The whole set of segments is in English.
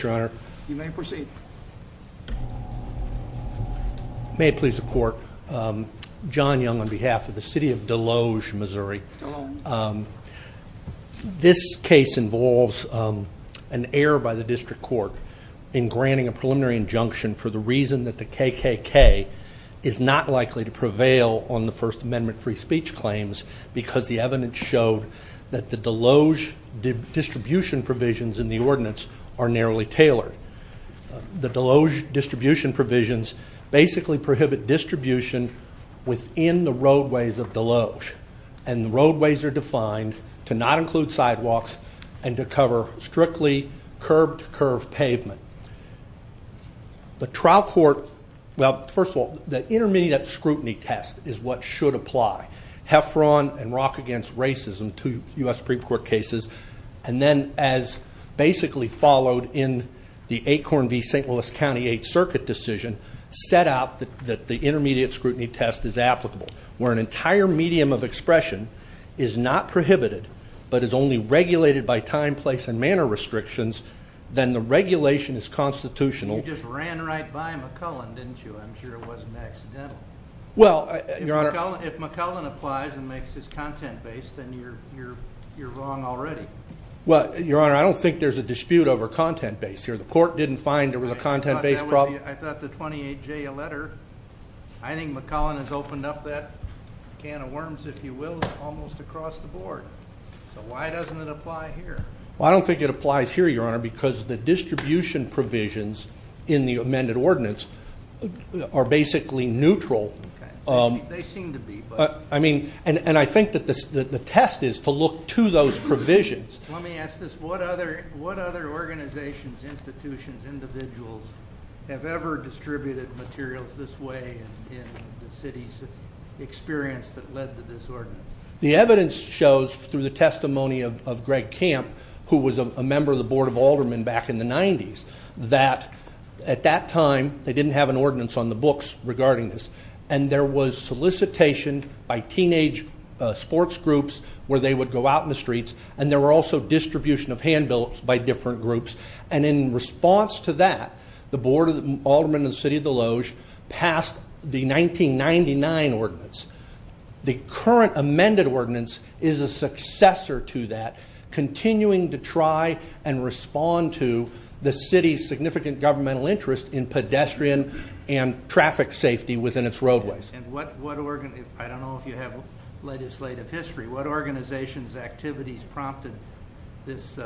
Your Honor. You may proceed. May it please the court, John Young on behalf of the City of Desloge, Missouri. This case involves an error by the district court in granting a preliminary injunction for the reason that the KKK is not likely to prevail on the First Amendment free speech claims because the evidence showed that the Desloge distribution provisions in the ordinance are narrowly tailored. The Desloge distribution provisions basically prohibit distribution within the roadways of Desloge and the roadways are defined to not include sidewalks and to cover strictly curb-to-curb pavement. The trial court, well first of all, the intermediate scrutiny test is what should apply. Heffron and Rock Against Racism, two U.S. Supreme Court cases, and then as basically followed in the Acorn v. St. Louis County 8th Circuit decision, set out that the intermediate scrutiny test is applicable. Where an entire medium of expression is not prohibited but is only regulated by time, place, and manner restrictions, then the regulation is constitutional. You just ran right by McCullen, didn't you? I'm sure it wasn't accidental. If McCullen applies and makes his content-based, then you're wrong already. Well, your honor, I don't think there's a dispute over content-based here. The court didn't find there was a content-based problem. I thought the 28J letter, I think McCullen has opened up that can of worms, if you will, almost across the board. So why doesn't it apply here? Well, I don't think it applies here, your honor, because the ordinances are basically neutral. They seem to be. I mean, and I think that the test is to look to those provisions. Let me ask this, what other organizations, institutions, individuals have ever distributed materials this way in the city's experience that led to this ordinance? The evidence shows through the testimony of Greg Camp, who was a member of the board of They didn't have an ordinance on the books regarding this. And there was solicitation by teenage sports groups where they would go out in the streets. And there were also distribution of handbills by different groups. And in response to that, the board of the Alderman of the City of the Lodge passed the 1999 ordinance. The current amended ordinance is a successor to that, continuing to try and respond to the city's significant governmental interest in pedestrian and traffic safety within its roadways. And what what organ, I don't know if you have legislative history, what organizations activities prompted this?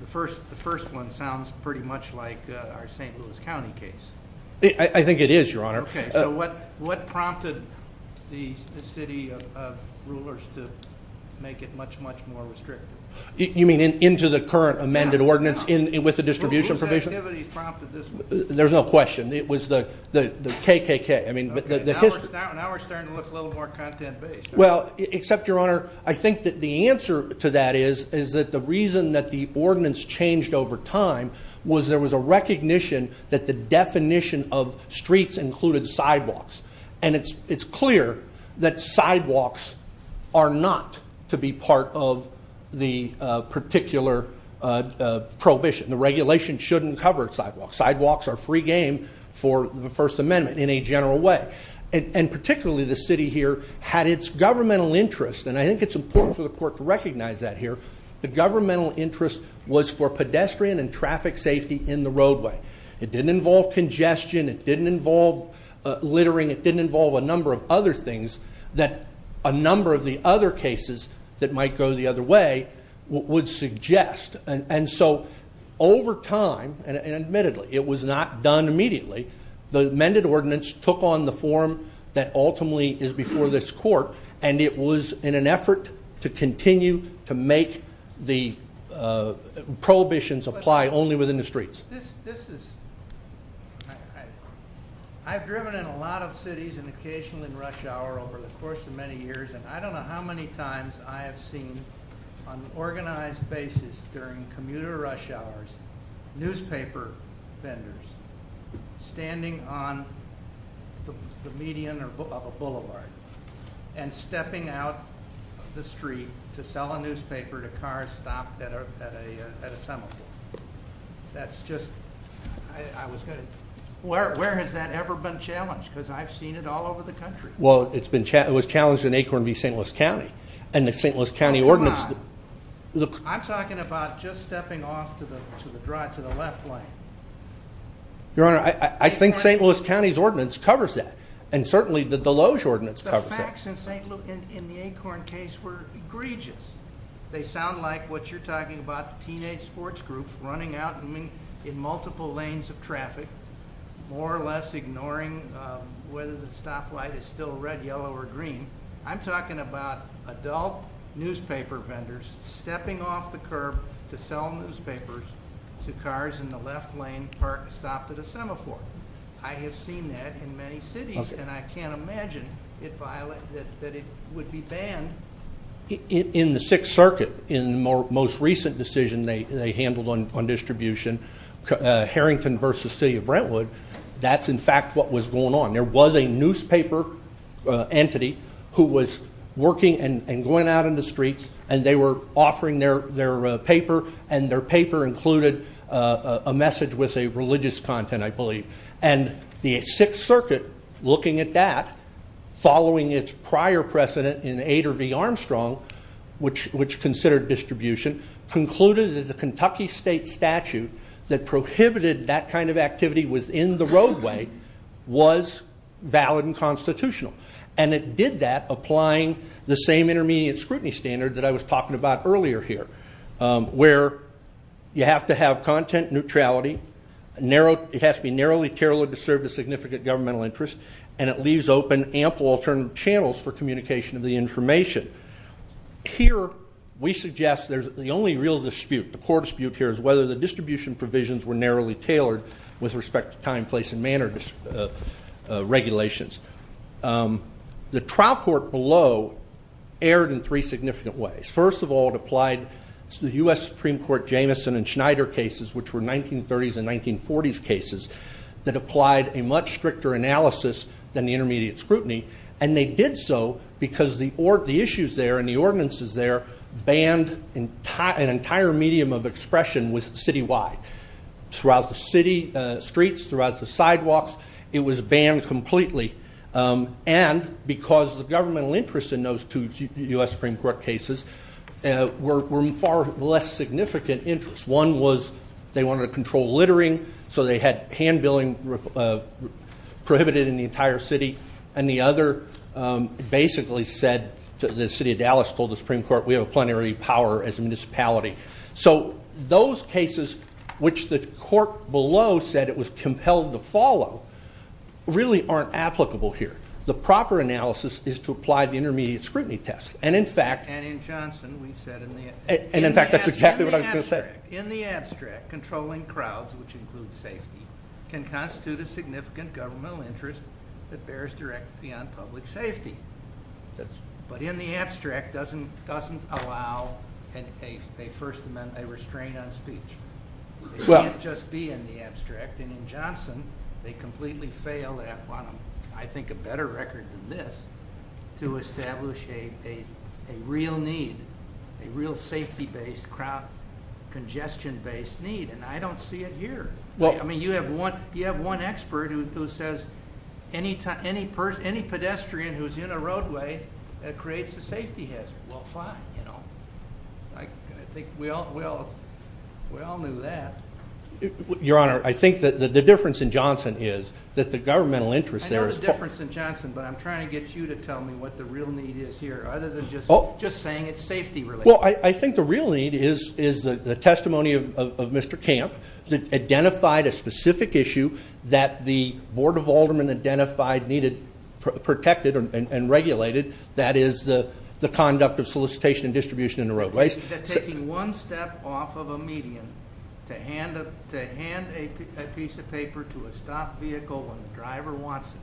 The first, the first one sounds pretty much like our St. Louis County case. I think it is, your honor. Okay, so what what prompted the city of rulers to make it much, much more restrictive? You mean into the current amended ordinance in with the distribution provision? There's no question. It was the the KKK. I mean, now we're starting to look a little more content based. Well, except your honor, I think that the answer to that is, is that the reason that the ordinance changed over time was there was a recognition that the definition of streets included sidewalks. And it's it's clear that sidewalks are not to be part of the particular prohibition. The regulation shouldn't cover sidewalks. Sidewalks are free game for the First Amendment in a general way. And particularly the city here had its governmental interest. And I think it's important for the court to recognize that here. The governmental interest was for pedestrian and traffic safety in the roadway. It didn't involve congestion. It didn't involve littering. It didn't involve a number of other that a number of the other cases that might go the other way would suggest and so over time, and admittedly, it was not done immediately. The amended ordinance took on the form that ultimately is before this court. And it was in an effort to continue to make the prohibitions apply only within the streets. This is okay. I've driven in a lot of cities and occasionally in rush hour over the course of many years, and I don't know how many times I have seen on an organized basis during commuter rush hours, newspaper vendors standing on the median of a boulevard and stepping out of the street to sell a newspaper to cars stopped at a semaphore. That's just, I was going to, where has that ever been challenged? Because I've seen it all over the country. Well, it's been challenged, it was challenged in Acorn v. St. Louis County. And the St. Louis County ordinance. I'm talking about just stepping off to the drive to the left lane. Your Honor, I think St. Louis County's ordinance covers that. And certainly the Deloge were egregious. They sound like what you're talking about, the teenage sports group running out in multiple lanes of traffic, more or less ignoring whether the stoplight is still red, yellow, or green. I'm talking about adult newspaper vendors stepping off the curb to sell newspapers to cars in the left lane parked, stopped at a semaphore. I have seen that in many in the Sixth Circuit, in the most recent decision they handled on distribution, Harrington v. City of Brentwood, that's in fact what was going on. There was a newspaper entity who was working and going out in the streets, and they were offering their paper, and their paper included a message with a religious content, I believe. And the Sixth Circuit, which considered distribution, concluded that the Kentucky state statute that prohibited that kind of activity within the roadway was valid and constitutional. And it did that, applying the same intermediate scrutiny standard that I was talking about earlier here, where you have to have content neutrality. It has to be narrowly tailored to serve the significant governmental interest, and it leaves open ample alternative channels for communication of the information. Here, we suggest there's the only real dispute, the court dispute here is whether the distribution provisions were narrowly tailored with respect to time, place, and manner regulations. The trial court below erred in three significant ways. First of all, it applied to the U.S. Supreme Court Jamison and Schneider cases, which were 1930s and because the issues there and the ordinances there banned an entire medium of expression with citywide. Throughout the city streets, throughout the sidewalks, it was banned completely. And because the governmental interest in those two U.S. Supreme Court cases were far less significant interests. One was they wanted to control littering, so they had hand-billing of prohibited in the entire city. And the other basically said to the city of Dallas, told the Supreme Court, we have a plenary power as a municipality. So those cases, which the court below said it was compelled to follow, really aren't applicable here. The proper analysis is to apply the intermediate scrutiny test. And in fact... And in Johnson, we said in the... And in fact, that's exactly what I was gonna say. In the abstract, controlling crowds, which includes safety, can constitute a significant governmental interest that bears directly on public safety. But in the abstract doesn't allow a First Amendment, a restraint on speech. It can't just be in the abstract. And in Johnson, they completely fail that one. I think a better record than this to establish a real need, a real safety-based crowd congestion-based need. And I don't see it here. I mean, you have one expert who says any pedestrian who's in a roadway, that creates a safety hazard. Well, fine. I think we all knew that. Your Honor, I think that the difference in Johnson is that the governmental interest there is... I know the difference in Johnson, but I'm trying to get you to tell me what the real need is here, other than just saying it's safety-related. Well, I think the real need is the testimony of Mr. Camp that identified a specific issue that the Board of Aldermen identified needed protected and regulated. That is the conduct of solicitation and distribution in the roadways. That taking one step off of a median to hand a piece of paper to a stopped vehicle when the driver wants it,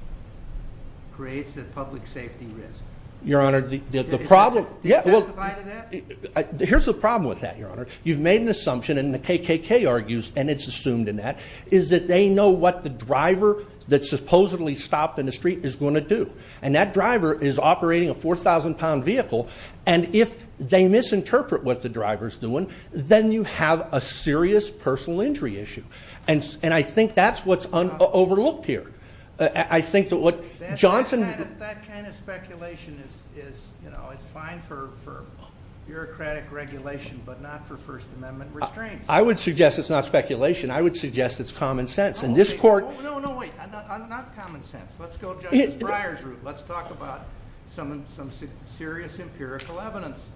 creates a public safety risk. Your Honor, the problem... Is that defined in that? Here's the problem with that, Your Honor. You've made an assumption, and the KKK argues, and it's assumed in that, is that they know what the driver that supposedly stopped in the street is going to do. And that driver is operating a 4,000-pound vehicle, and if they misinterpret what the driver's doing, then you have a serious personal injury issue. And I think that's what's overlooked here. I think that what Johnson... That kind of speculation is fine for bureaucratic regulation, but not for First Amendment restraints. I would suggest it's not speculation. I would suggest it's common sense. And this court... No, no, wait. Not common sense. Let's go Justice Breyer's route. Let's talk about some serious empirical evidence.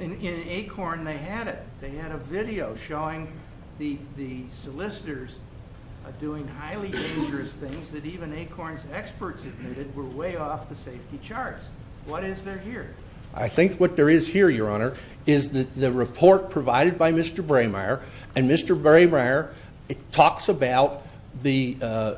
In Acorn, they had it. They had a video showing the solicitors doing highly dangerous things that even Acorn's experts admitted were way off the safety charts. What is there here? I think what there is here, Your Honor, is the report provided by Mr. Braymeyer, and Mr. Braymeyer talks about the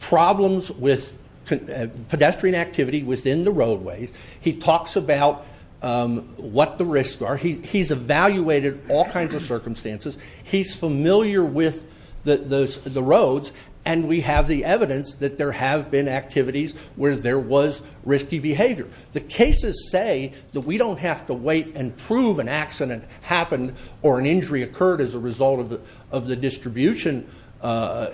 problems with pedestrian activity within the roadways. He talks about what the risks are. He's evaluated all kinds of circumstances. He's familiar with the roads, and we have the evidence that there have been activities where there was risky behavior. The cases say that we don't have to wait and prove an accident happened or an injury occurred as a result of the distribution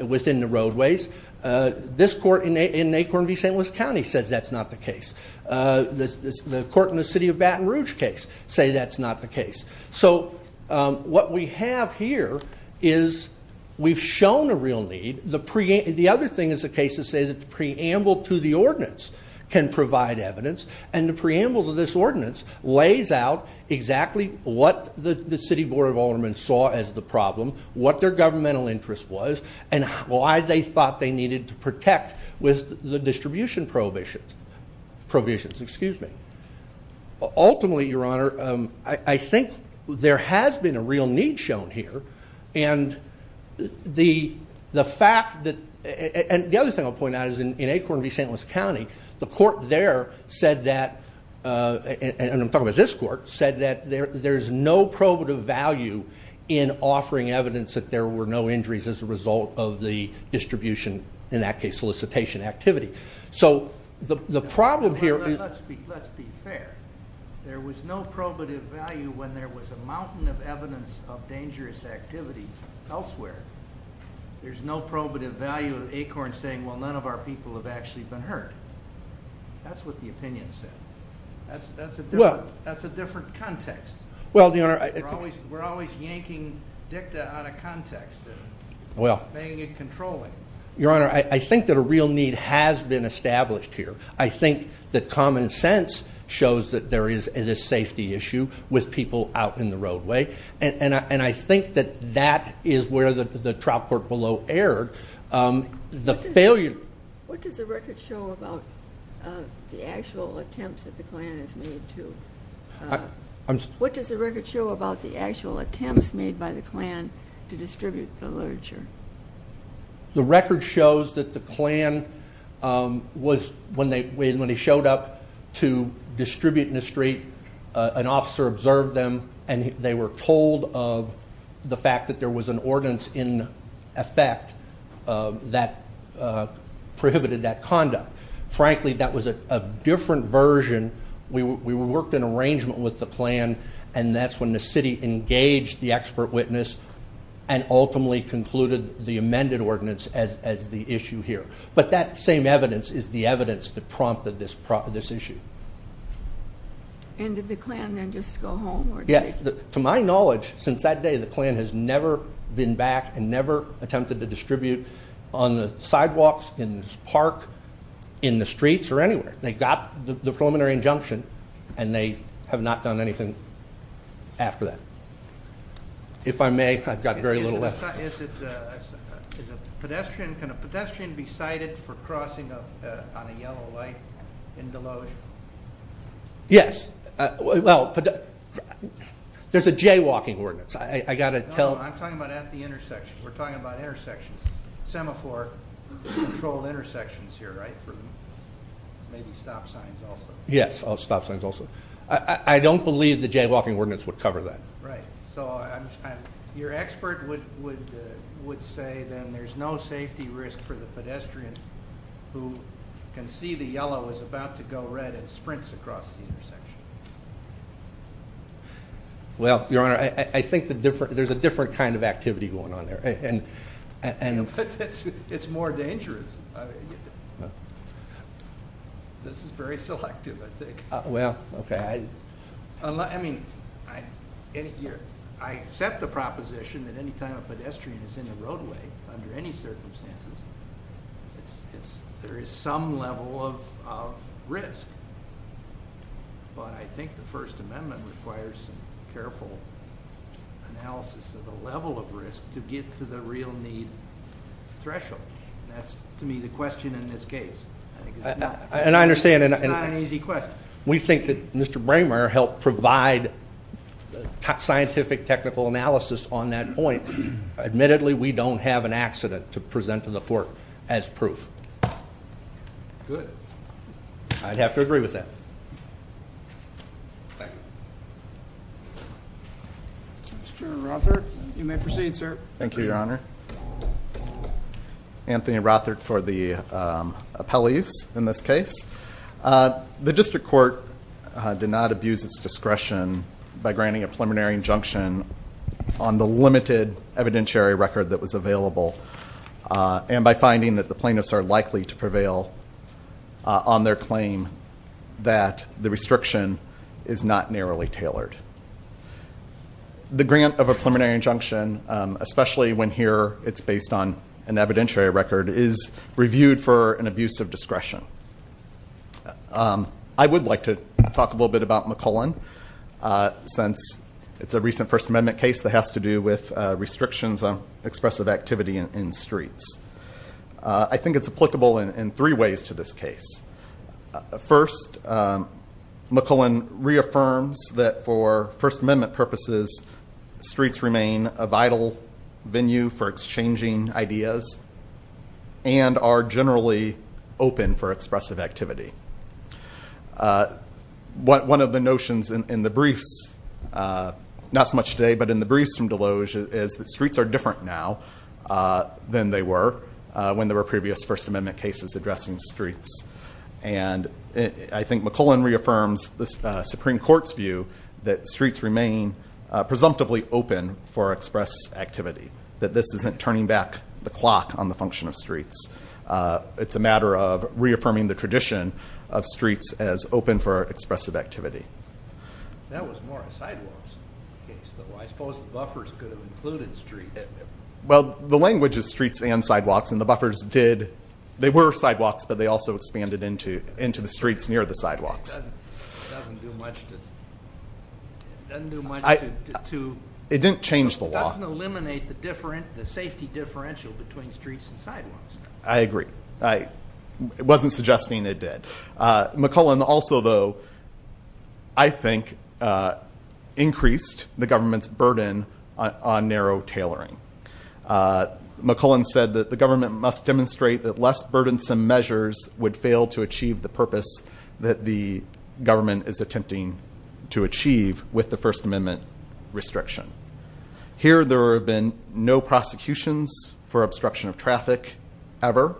within the roadways. This court in Acorn v. St. Louis County says that's not the case. The court in the city of Baton Rouge case say that's not the case. So what we have here is we've shown a real need. The other thing is the cases say that the preamble to the ordinance can provide evidence, and the preamble to this ordinance lays out exactly what the city board of aldermen saw as the problem, what their governmental interest was, and why they thought they needed to protect with the distribution provisions. Ultimately, Your Honor, I think there has been a real need shown here, and the fact that... The other thing I'll point out is in Acorn v. St. Louis County, the court there said that, and I'm talking about this court, said that there's no probative value in offering evidence that there were no injuries as a result of the distribution, in that case, solicitation activity. So the problem here is... Let's be fair. There was no probative value when there was a mountain of evidence of dangerous activities elsewhere. There's no probative value in Acorn saying, well, none of our people have actually been hurt. That's what the opinion said. That's a different context. We're always yanking dicta out of context and banging and controlling. Your Honor, I think that a real need has been established here. I think that common sense shows that there is this safety issue with people out in the roadway, and I think that that is where the trial court below erred. The failure... What does the record show about the actual attempts that the Klan has made to... What does the record show about the actual attempts made by the Klan to distribute the literature? The record shows that the Klan was... When they showed up to distribute in the street, an officer observed them, and they were told of the fact that there was an ordinance in effect that prohibited that conduct. Frankly, that was a different version. We worked an arrangement with the Klan, and that's when the city engaged the expert witness and ultimately concluded the amended ordinance as the issue here. But that same evidence is the evidence that prompted this issue. Did the Klan then just go home? Yeah. To my knowledge, since that day, the Klan has never been back and never attempted to distribute on the sidewalks, in the park, in the streets, or anywhere. They got the preliminary injunction, and they have not done anything after that. If I may, I've got very little left. Is a pedestrian... Can a pedestrian be cited for crossing on a yellow light in Deloge? Yes. Well, there's a jaywalking ordinance. I got to tell... I'm talking about at the intersection. We're talking about intersections, semaphore-controlled intersections here, right? Maybe stop signs also. Yes. Stop signs also. I don't believe the jaywalking ordinance would cover that. Right. Your expert would say then there's no safety risk for the pedestrian who can see the yellow is about to go red and sprints across the intersection. Well, Your Honor, I think there's a different kind of activity going on there. It's more dangerous. This is very selective, I think. Well, okay. I accept the proposition that any time a pedestrian is in the roadway under any circumstances, it's... There is some level of risk, but I think the First Amendment requires some careful analysis of the level of risk to get to the real need threshold. That's, to me, the question in this case. I think it's not... And I understand... It's not an easy question. We think that Mr. Braymer helped provide scientific technical analysis on that point. Admittedly, we don't have an accident to present to the court as proof. Good. I'd have to agree with that. Thank you. Mr. Rothart, you may proceed, sir. Thank you, Your Honor. Anthony Rothart for the appellees in this case. The district court did not abuse its discretion by granting a preliminary injunction on the limited evidentiary record that was available, and by finding that the plaintiffs are likely to prevail on their claim that the restriction is not narrowly tailored. The grant of a preliminary injunction, especially when here it's based on an evidentiary record, is reviewed for an abuse of discretion. I would like to talk a little bit about McCullen, since it's a recent First Amendment case that has to do with restrictions on expressive activity in streets. I think it's applicable in three ways to this case. First, McCullen reaffirms that for First Amendment purposes, streets remain a vital venue for exchanging ideas and are generally open for expressive activity. One of the notions in the briefs, not so much today, but in the briefs from Deloge, is that streets are different now than they were when there were previous First Amendment cases addressing streets. I think McCullen reaffirms the Supreme Court's view that streets remain presumptively open for express activity, that this isn't turning back the clock on the function of streets. It's a matter of reaffirming the tradition of streets as open for expressive activity. That was more a sidewalks case, though. I suppose the buffers could have included streets. Well, the language is streets and sidewalks, and the buffers did, they were sidewalks, but they also expanded into the streets near the sidewalks. It doesn't do much to... It didn't change the law. It doesn't eliminate the safety differential between streets and sidewalks. I agree. I wasn't suggesting it did. McCullen also, though, I think, increased the government's burden on narrow tailoring. McCullen said that the government must demonstrate that less burdensome measures would fail to achieve the purpose that the government is attempting to achieve with the First Amendment restriction. Here, there have been no prosecutions for obstruction of traffic ever,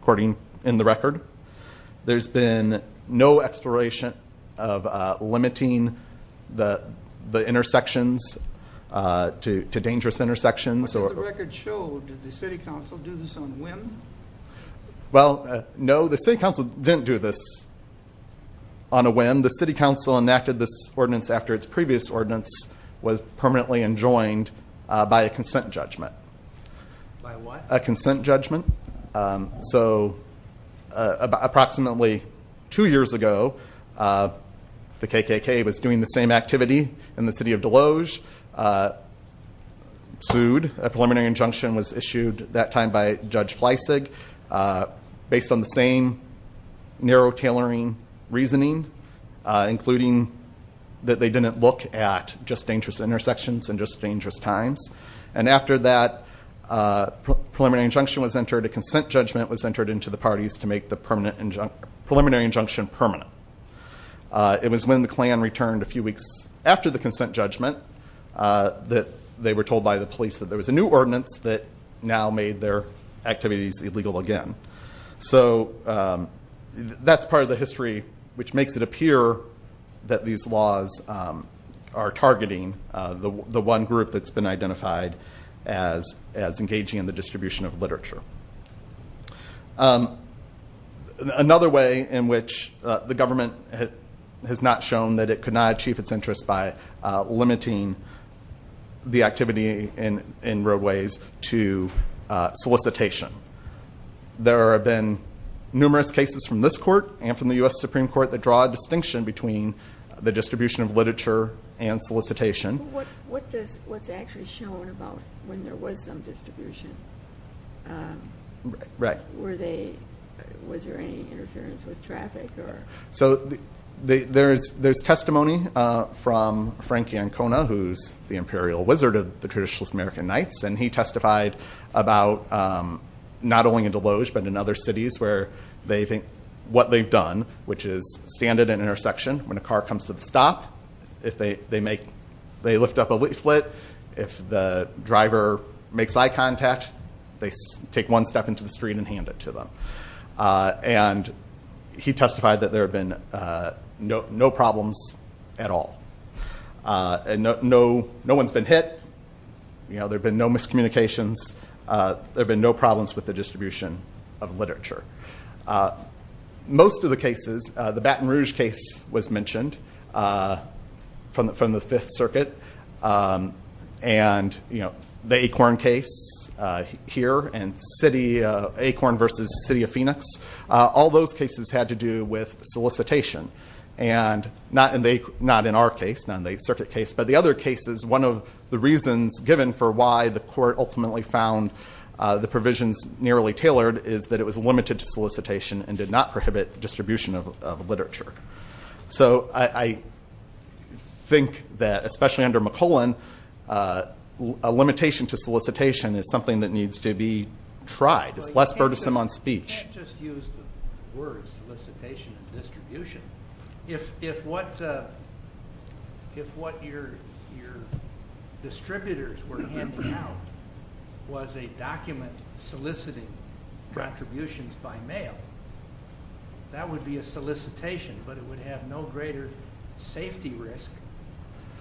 according in the record. There's been no exploration of limiting the intersections to dangerous intersections. What does the record show? Did the city council do this on whim? Well, no, the city council didn't do this on a whim. The city council enacted this ordinance after its previous ordinance was permanently enjoined by a consent judgment. By what? A consent judgment. Approximately two years ago, the KKK was doing the same activity in the city of Deloge, sued. A preliminary injunction was issued that time by Judge Fleisig based on the same narrow tailoring reasoning, including that they didn't look at just dangerous intersections and just dangerous times. After that preliminary injunction was entered, a consent judgment was entered into the parties to make the preliminary injunction permanent. It was when the Klan returned a few weeks after the consent judgment that they were told by the police that there was a new ordinance that now made their activities illegal again. That's part of the history which makes it appear that these laws are targeting the one group that's been identified as engaging in distribution of literature. Another way in which the government has not shown that it could not achieve its interest by limiting the activity in roadways to solicitation. There have been numerous cases from this court and from the U.S. Supreme Court that draw a distinction between the distribution of literature and solicitation. What's actually shown about when there was some distribution? Was there any interference with traffic? There's testimony from Frankie Ancona who's the imperial wizard of the traditionalist American knights. He testified about not only in Deloge but in other cities where what they've done, which is stand at an intersection when a car comes to the lift up a leaflet. If the driver makes eye contact, they take one step into the street and hand it to them. He testified that there have been no problems at all. No one's been hit. There've been no miscommunications. There've been no problems with the distribution of literature. Most of the cases, the Baton Rouge case was mentioned from the Fifth Circuit. The Acorn case here and Acorn versus the City of Phoenix, all those cases had to do with solicitation. Not in our case, not in the Circuit case, but the other cases, one of the reasons given for why the court ultimately found the provisions nearly tailored is that it was limited to solicitation and did not prohibit distribution of literature. I think that, especially under McClellan, a limitation to solicitation is something that needs to be tried. It's less distributors were handing out was a document soliciting contributions by mail. That would be a solicitation, but it would have no greater safety risk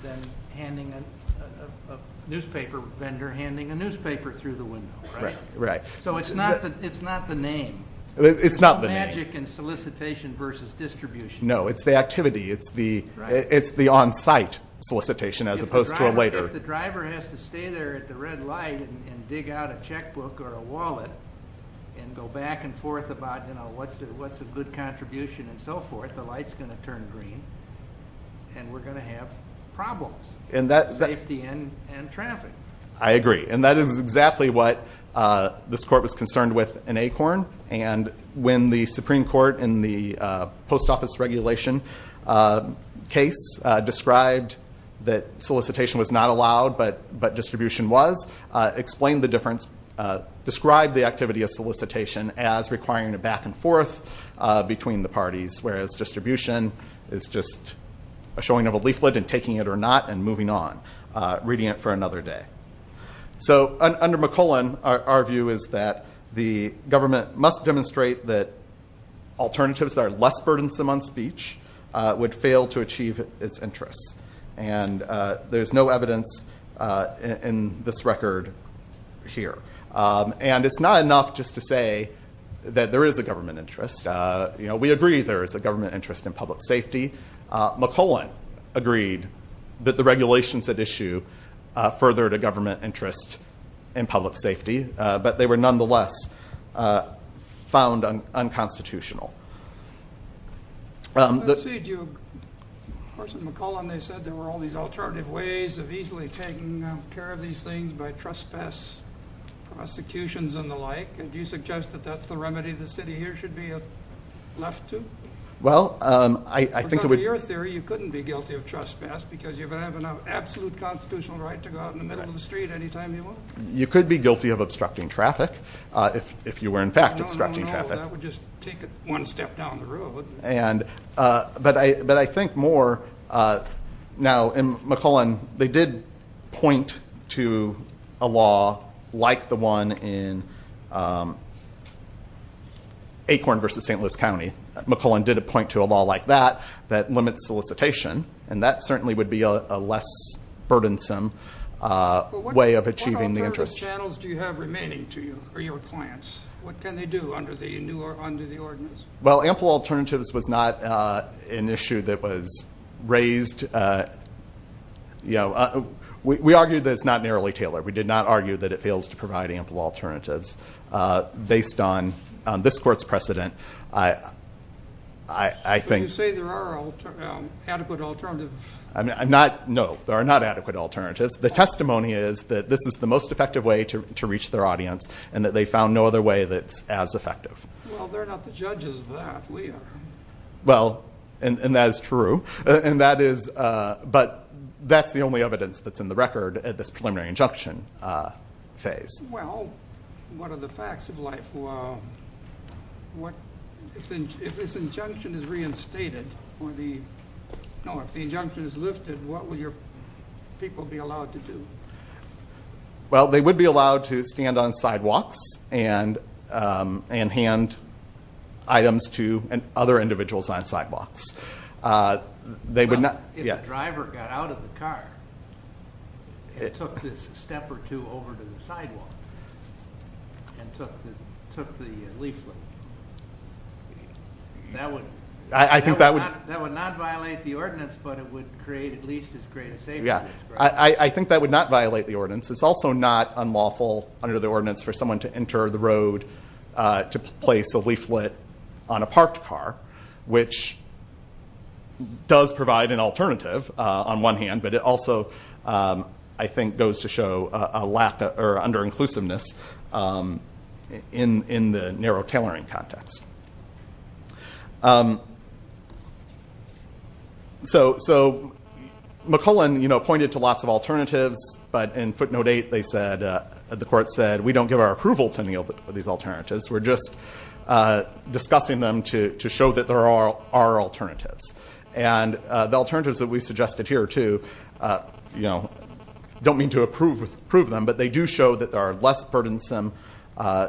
than a newspaper vendor handing a newspaper through the window. It's not the name. It's not the magic in solicitation versus distribution. No, it's the activity. It's the on-site solicitation as a driver has to stay there at the red light and dig out a checkbook or a wallet and go back and forth about what's a good contribution and so forth. The light's going to turn green and we're going to have problems, safety and traffic. I agree. That is exactly what this court was concerned with in Acorn. When the Supreme Court described the activity of solicitation as requiring a back and forth between the parties, whereas distribution is just a showing of a leaflet and taking it or not and moving on, reading it for another day. Under McClellan, our view is that the government must demonstrate that alternatives that are less burdensome on speech would fail to achieve its interests. And there's no evidence in this record here. And it's not enough just to say that there is a government interest. We agree there is a government interest in public safety. McClellan agreed that the regulations at issue furthered a government interest in public safety, but they were nonetheless found unconstitutional. I see. Of course, in McClellan, they said there were all these alternative ways of easily taking care of these things by trespass, prosecutions and the like. And do you suggest that that's the remedy the city here should be left to? Well, I think it would... According to your theory, you couldn't be guilty of trespass because you have an absolute constitutional right to go out in the middle of the street anytime you want. You could be guilty of obstructing traffic if you were in fact obstructing traffic. That would just take it one step down the road, wouldn't it? And... But I think more... Now, in McClellan, they did point to a law like the one in Acorn versus St. Louis County. McClellan did a point to a law like that, that limits solicitation. And that certainly would be a less burdensome way of achieving the interest. What channels do you have remaining to you or your clients? What can they do under the ordinance? Well, ample alternatives was not an issue that was raised. We argued that it's not narrowly tailored. We did not argue that it fails to provide ample alternatives based on this court's precedent. I think... So you say there are adequate alternatives? No, there are not adequate alternatives. The testimony is that this is the most effective way to reach their audience and that they found no other way that's as effective. Well, they're not the judges of that. We are. Well, and that is true. And that is... But that's the only evidence that's in the record at this preliminary injunction phase. Well, what are the facts of life? If this injunction is reinstated or the... No, if the injunction is lifted, what will your people be allowed to do? Well, they would be allowed to stand on sidewalks and hand items to other individuals on sidewalks. Well, if the driver got out of the car and took this step or two over to the sidewalk and took the leaflet, that would not violate the ordinance, but it would create at least a safety risk. Yeah. I think that would not violate the ordinance. It's also not unlawful under the ordinance for someone to enter the road to place a leaflet on a parked car, which does provide an alternative on one hand, but it also, I think, goes to show a lack or under-inclusiveness in the narrow tailoring context. So, McClellan pointed to lots of alternatives, but in footnote eight, the court said, we don't give our approval to any of these alternatives. We're just discussing them to show that there are alternatives. And the alternatives that we suggested here, too, don't mean to approve them, but they do show that there are less burdensome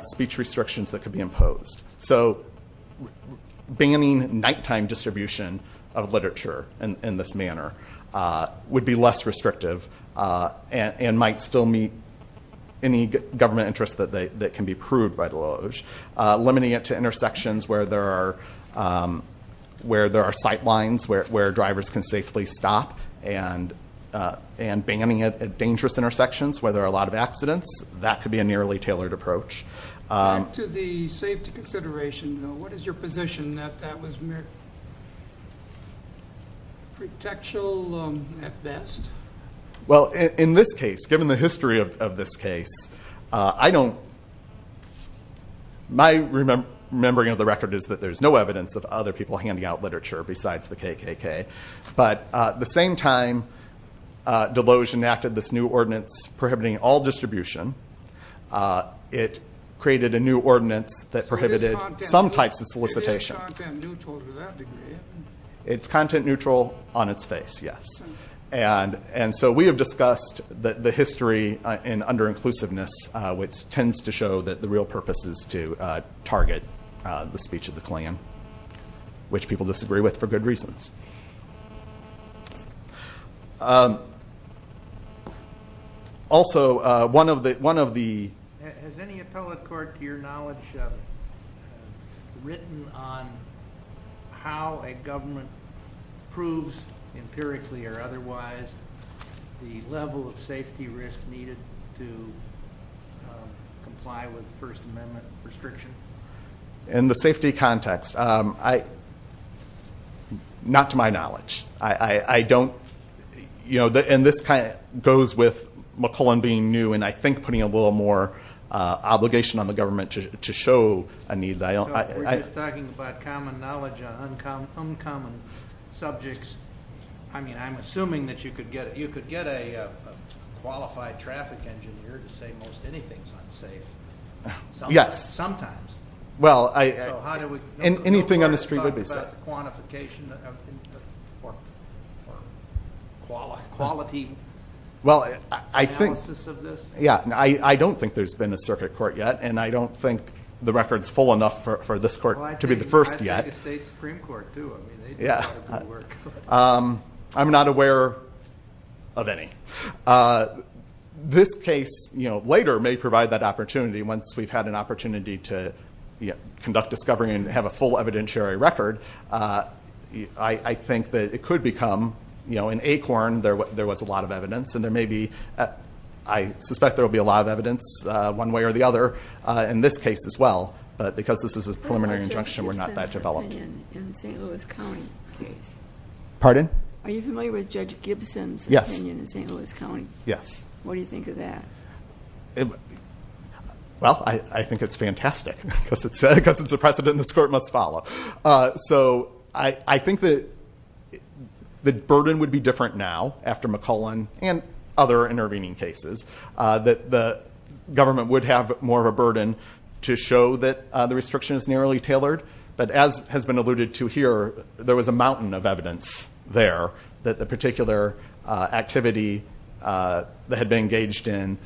speech restrictions that could be imposed. So, banning nighttime distribution of literature in this manner would be less restrictive and might still meet any government interests that can be proved by the law. Limiting it to intersections where there are sight lines, where drivers can safely stop, and banning it at dangerous intersections where there aren't. To the safety consideration, though, what is your position that that was pretextual at best? Well, in this case, given the history of this case, I don't... My remembering of the record is that there's no evidence of other people handing out literature besides the KKK. But at the same time, Deloge enacted this new ordinance prohibiting all distribution. It created a new ordinance that prohibited some types of solicitation. It's content neutral on its face, yes. And so we have discussed the history in under-inclusiveness, which tends to show that the real purpose is to target the speech of the Klingon, which people disagree with for good reasons. Also, one of the... Has any appellate court, to your knowledge, written on how a government proves empirically or otherwise the level of safety risk needed to I... Not to my knowledge. I don't... And this goes with McClellan being new, and I think putting a little more obligation on the government to show a need that I don't... We're just talking about common knowledge on uncommon subjects. I mean, I'm assuming that you could get a qualified traffic engineer to say most anything's unsafe. Yes. Sometimes. Well, I... So how do we... Anything on the street would be safe. Quantification or quality analysis of this? Yeah. I don't think there's been a circuit court yet, and I don't think the record's full enough for this court to be the first yet. I think a state Supreme Court too. I mean, they do a lot of good work. I'm not aware of any. This case later may provide that opportunity once we've had an opportunity to conduct discovery and have a full evidentiary record. I think that it could become... In Acorn, there was a lot of evidence, and there may be... I suspect there'll be a lot of evidence one way or the other in this case as well, but because this is a preliminary injunction, we're not that developed. What about Judge Gibson's opinion in the St. Louis County case? Pardon? Are you familiar with Judge Gibson's opinion in St. Louis County? Yes. What do you think of that? Well, I think it's fantastic because it's a precedent this court must follow. So I think the burden would be different now after McClellan and other intervening cases, that the government would have more of a burden to show that the restriction is nearly tailored. But as has been alluded to here, there was a mountain of evidence there that the particular activity that had been engaged in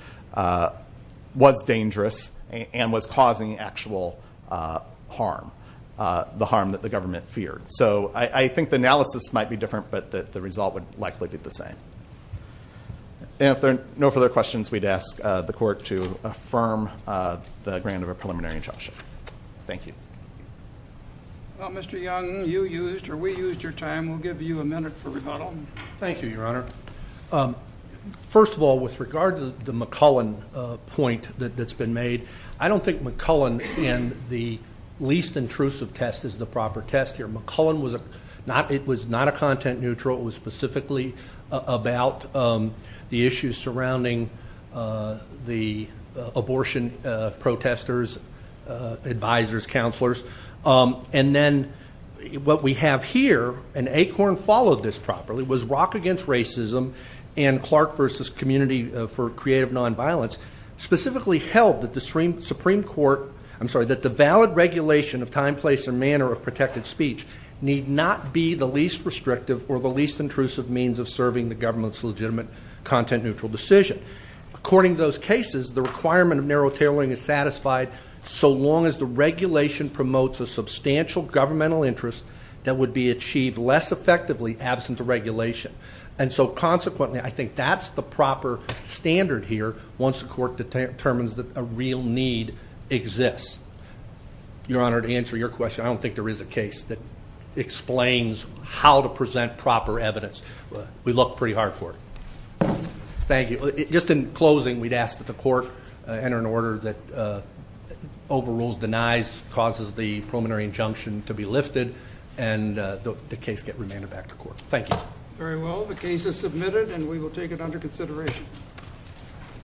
was dangerous and was causing actual harm, the harm that the government feared. So I think the analysis might be different, but the result would likely be the same. And if there are no further questions, we'd ask the court to affirm the grant of a preliminary injunction. Thank you. Well, Mr. Young, you used or we used your time. We'll give you a minute for rebuttal. Thank you, Your Honor. First of all, with regard to the McClellan point that's been made, I don't think McClellan in the least intrusive test is the proper test here. McClellan was not a content neutral. It was specifically about the issues surrounding the abortion protesters, advisors, counselors. And then what we have here, and Acorn followed this properly, was Rock Against Racism and Clark versus Community for Creative Nonviolence, specifically held that the Supreme Court, I'm sorry, that the valid regulation of time, place, and manner of protected speech need not be the least restrictive or the least intrusive means of serving the government's content neutral decision. According to those cases, the requirement of narrow tailoring is satisfied so long as the regulation promotes a substantial governmental interest that would be achieved less effectively absent the regulation. And so consequently, I think that's the proper standard here once the court determines that a real need exists. Your Honor, to answer your question, I don't think there is a case that explains how to present proper evidence. We look pretty hard for it. Thank you. Just in closing, we'd ask that the court enter an order that overrules, denies, causes the preliminary injunction to be lifted, and the case get remanded back to court. Thank you. Very well, the case is submitted and we will take it under consideration.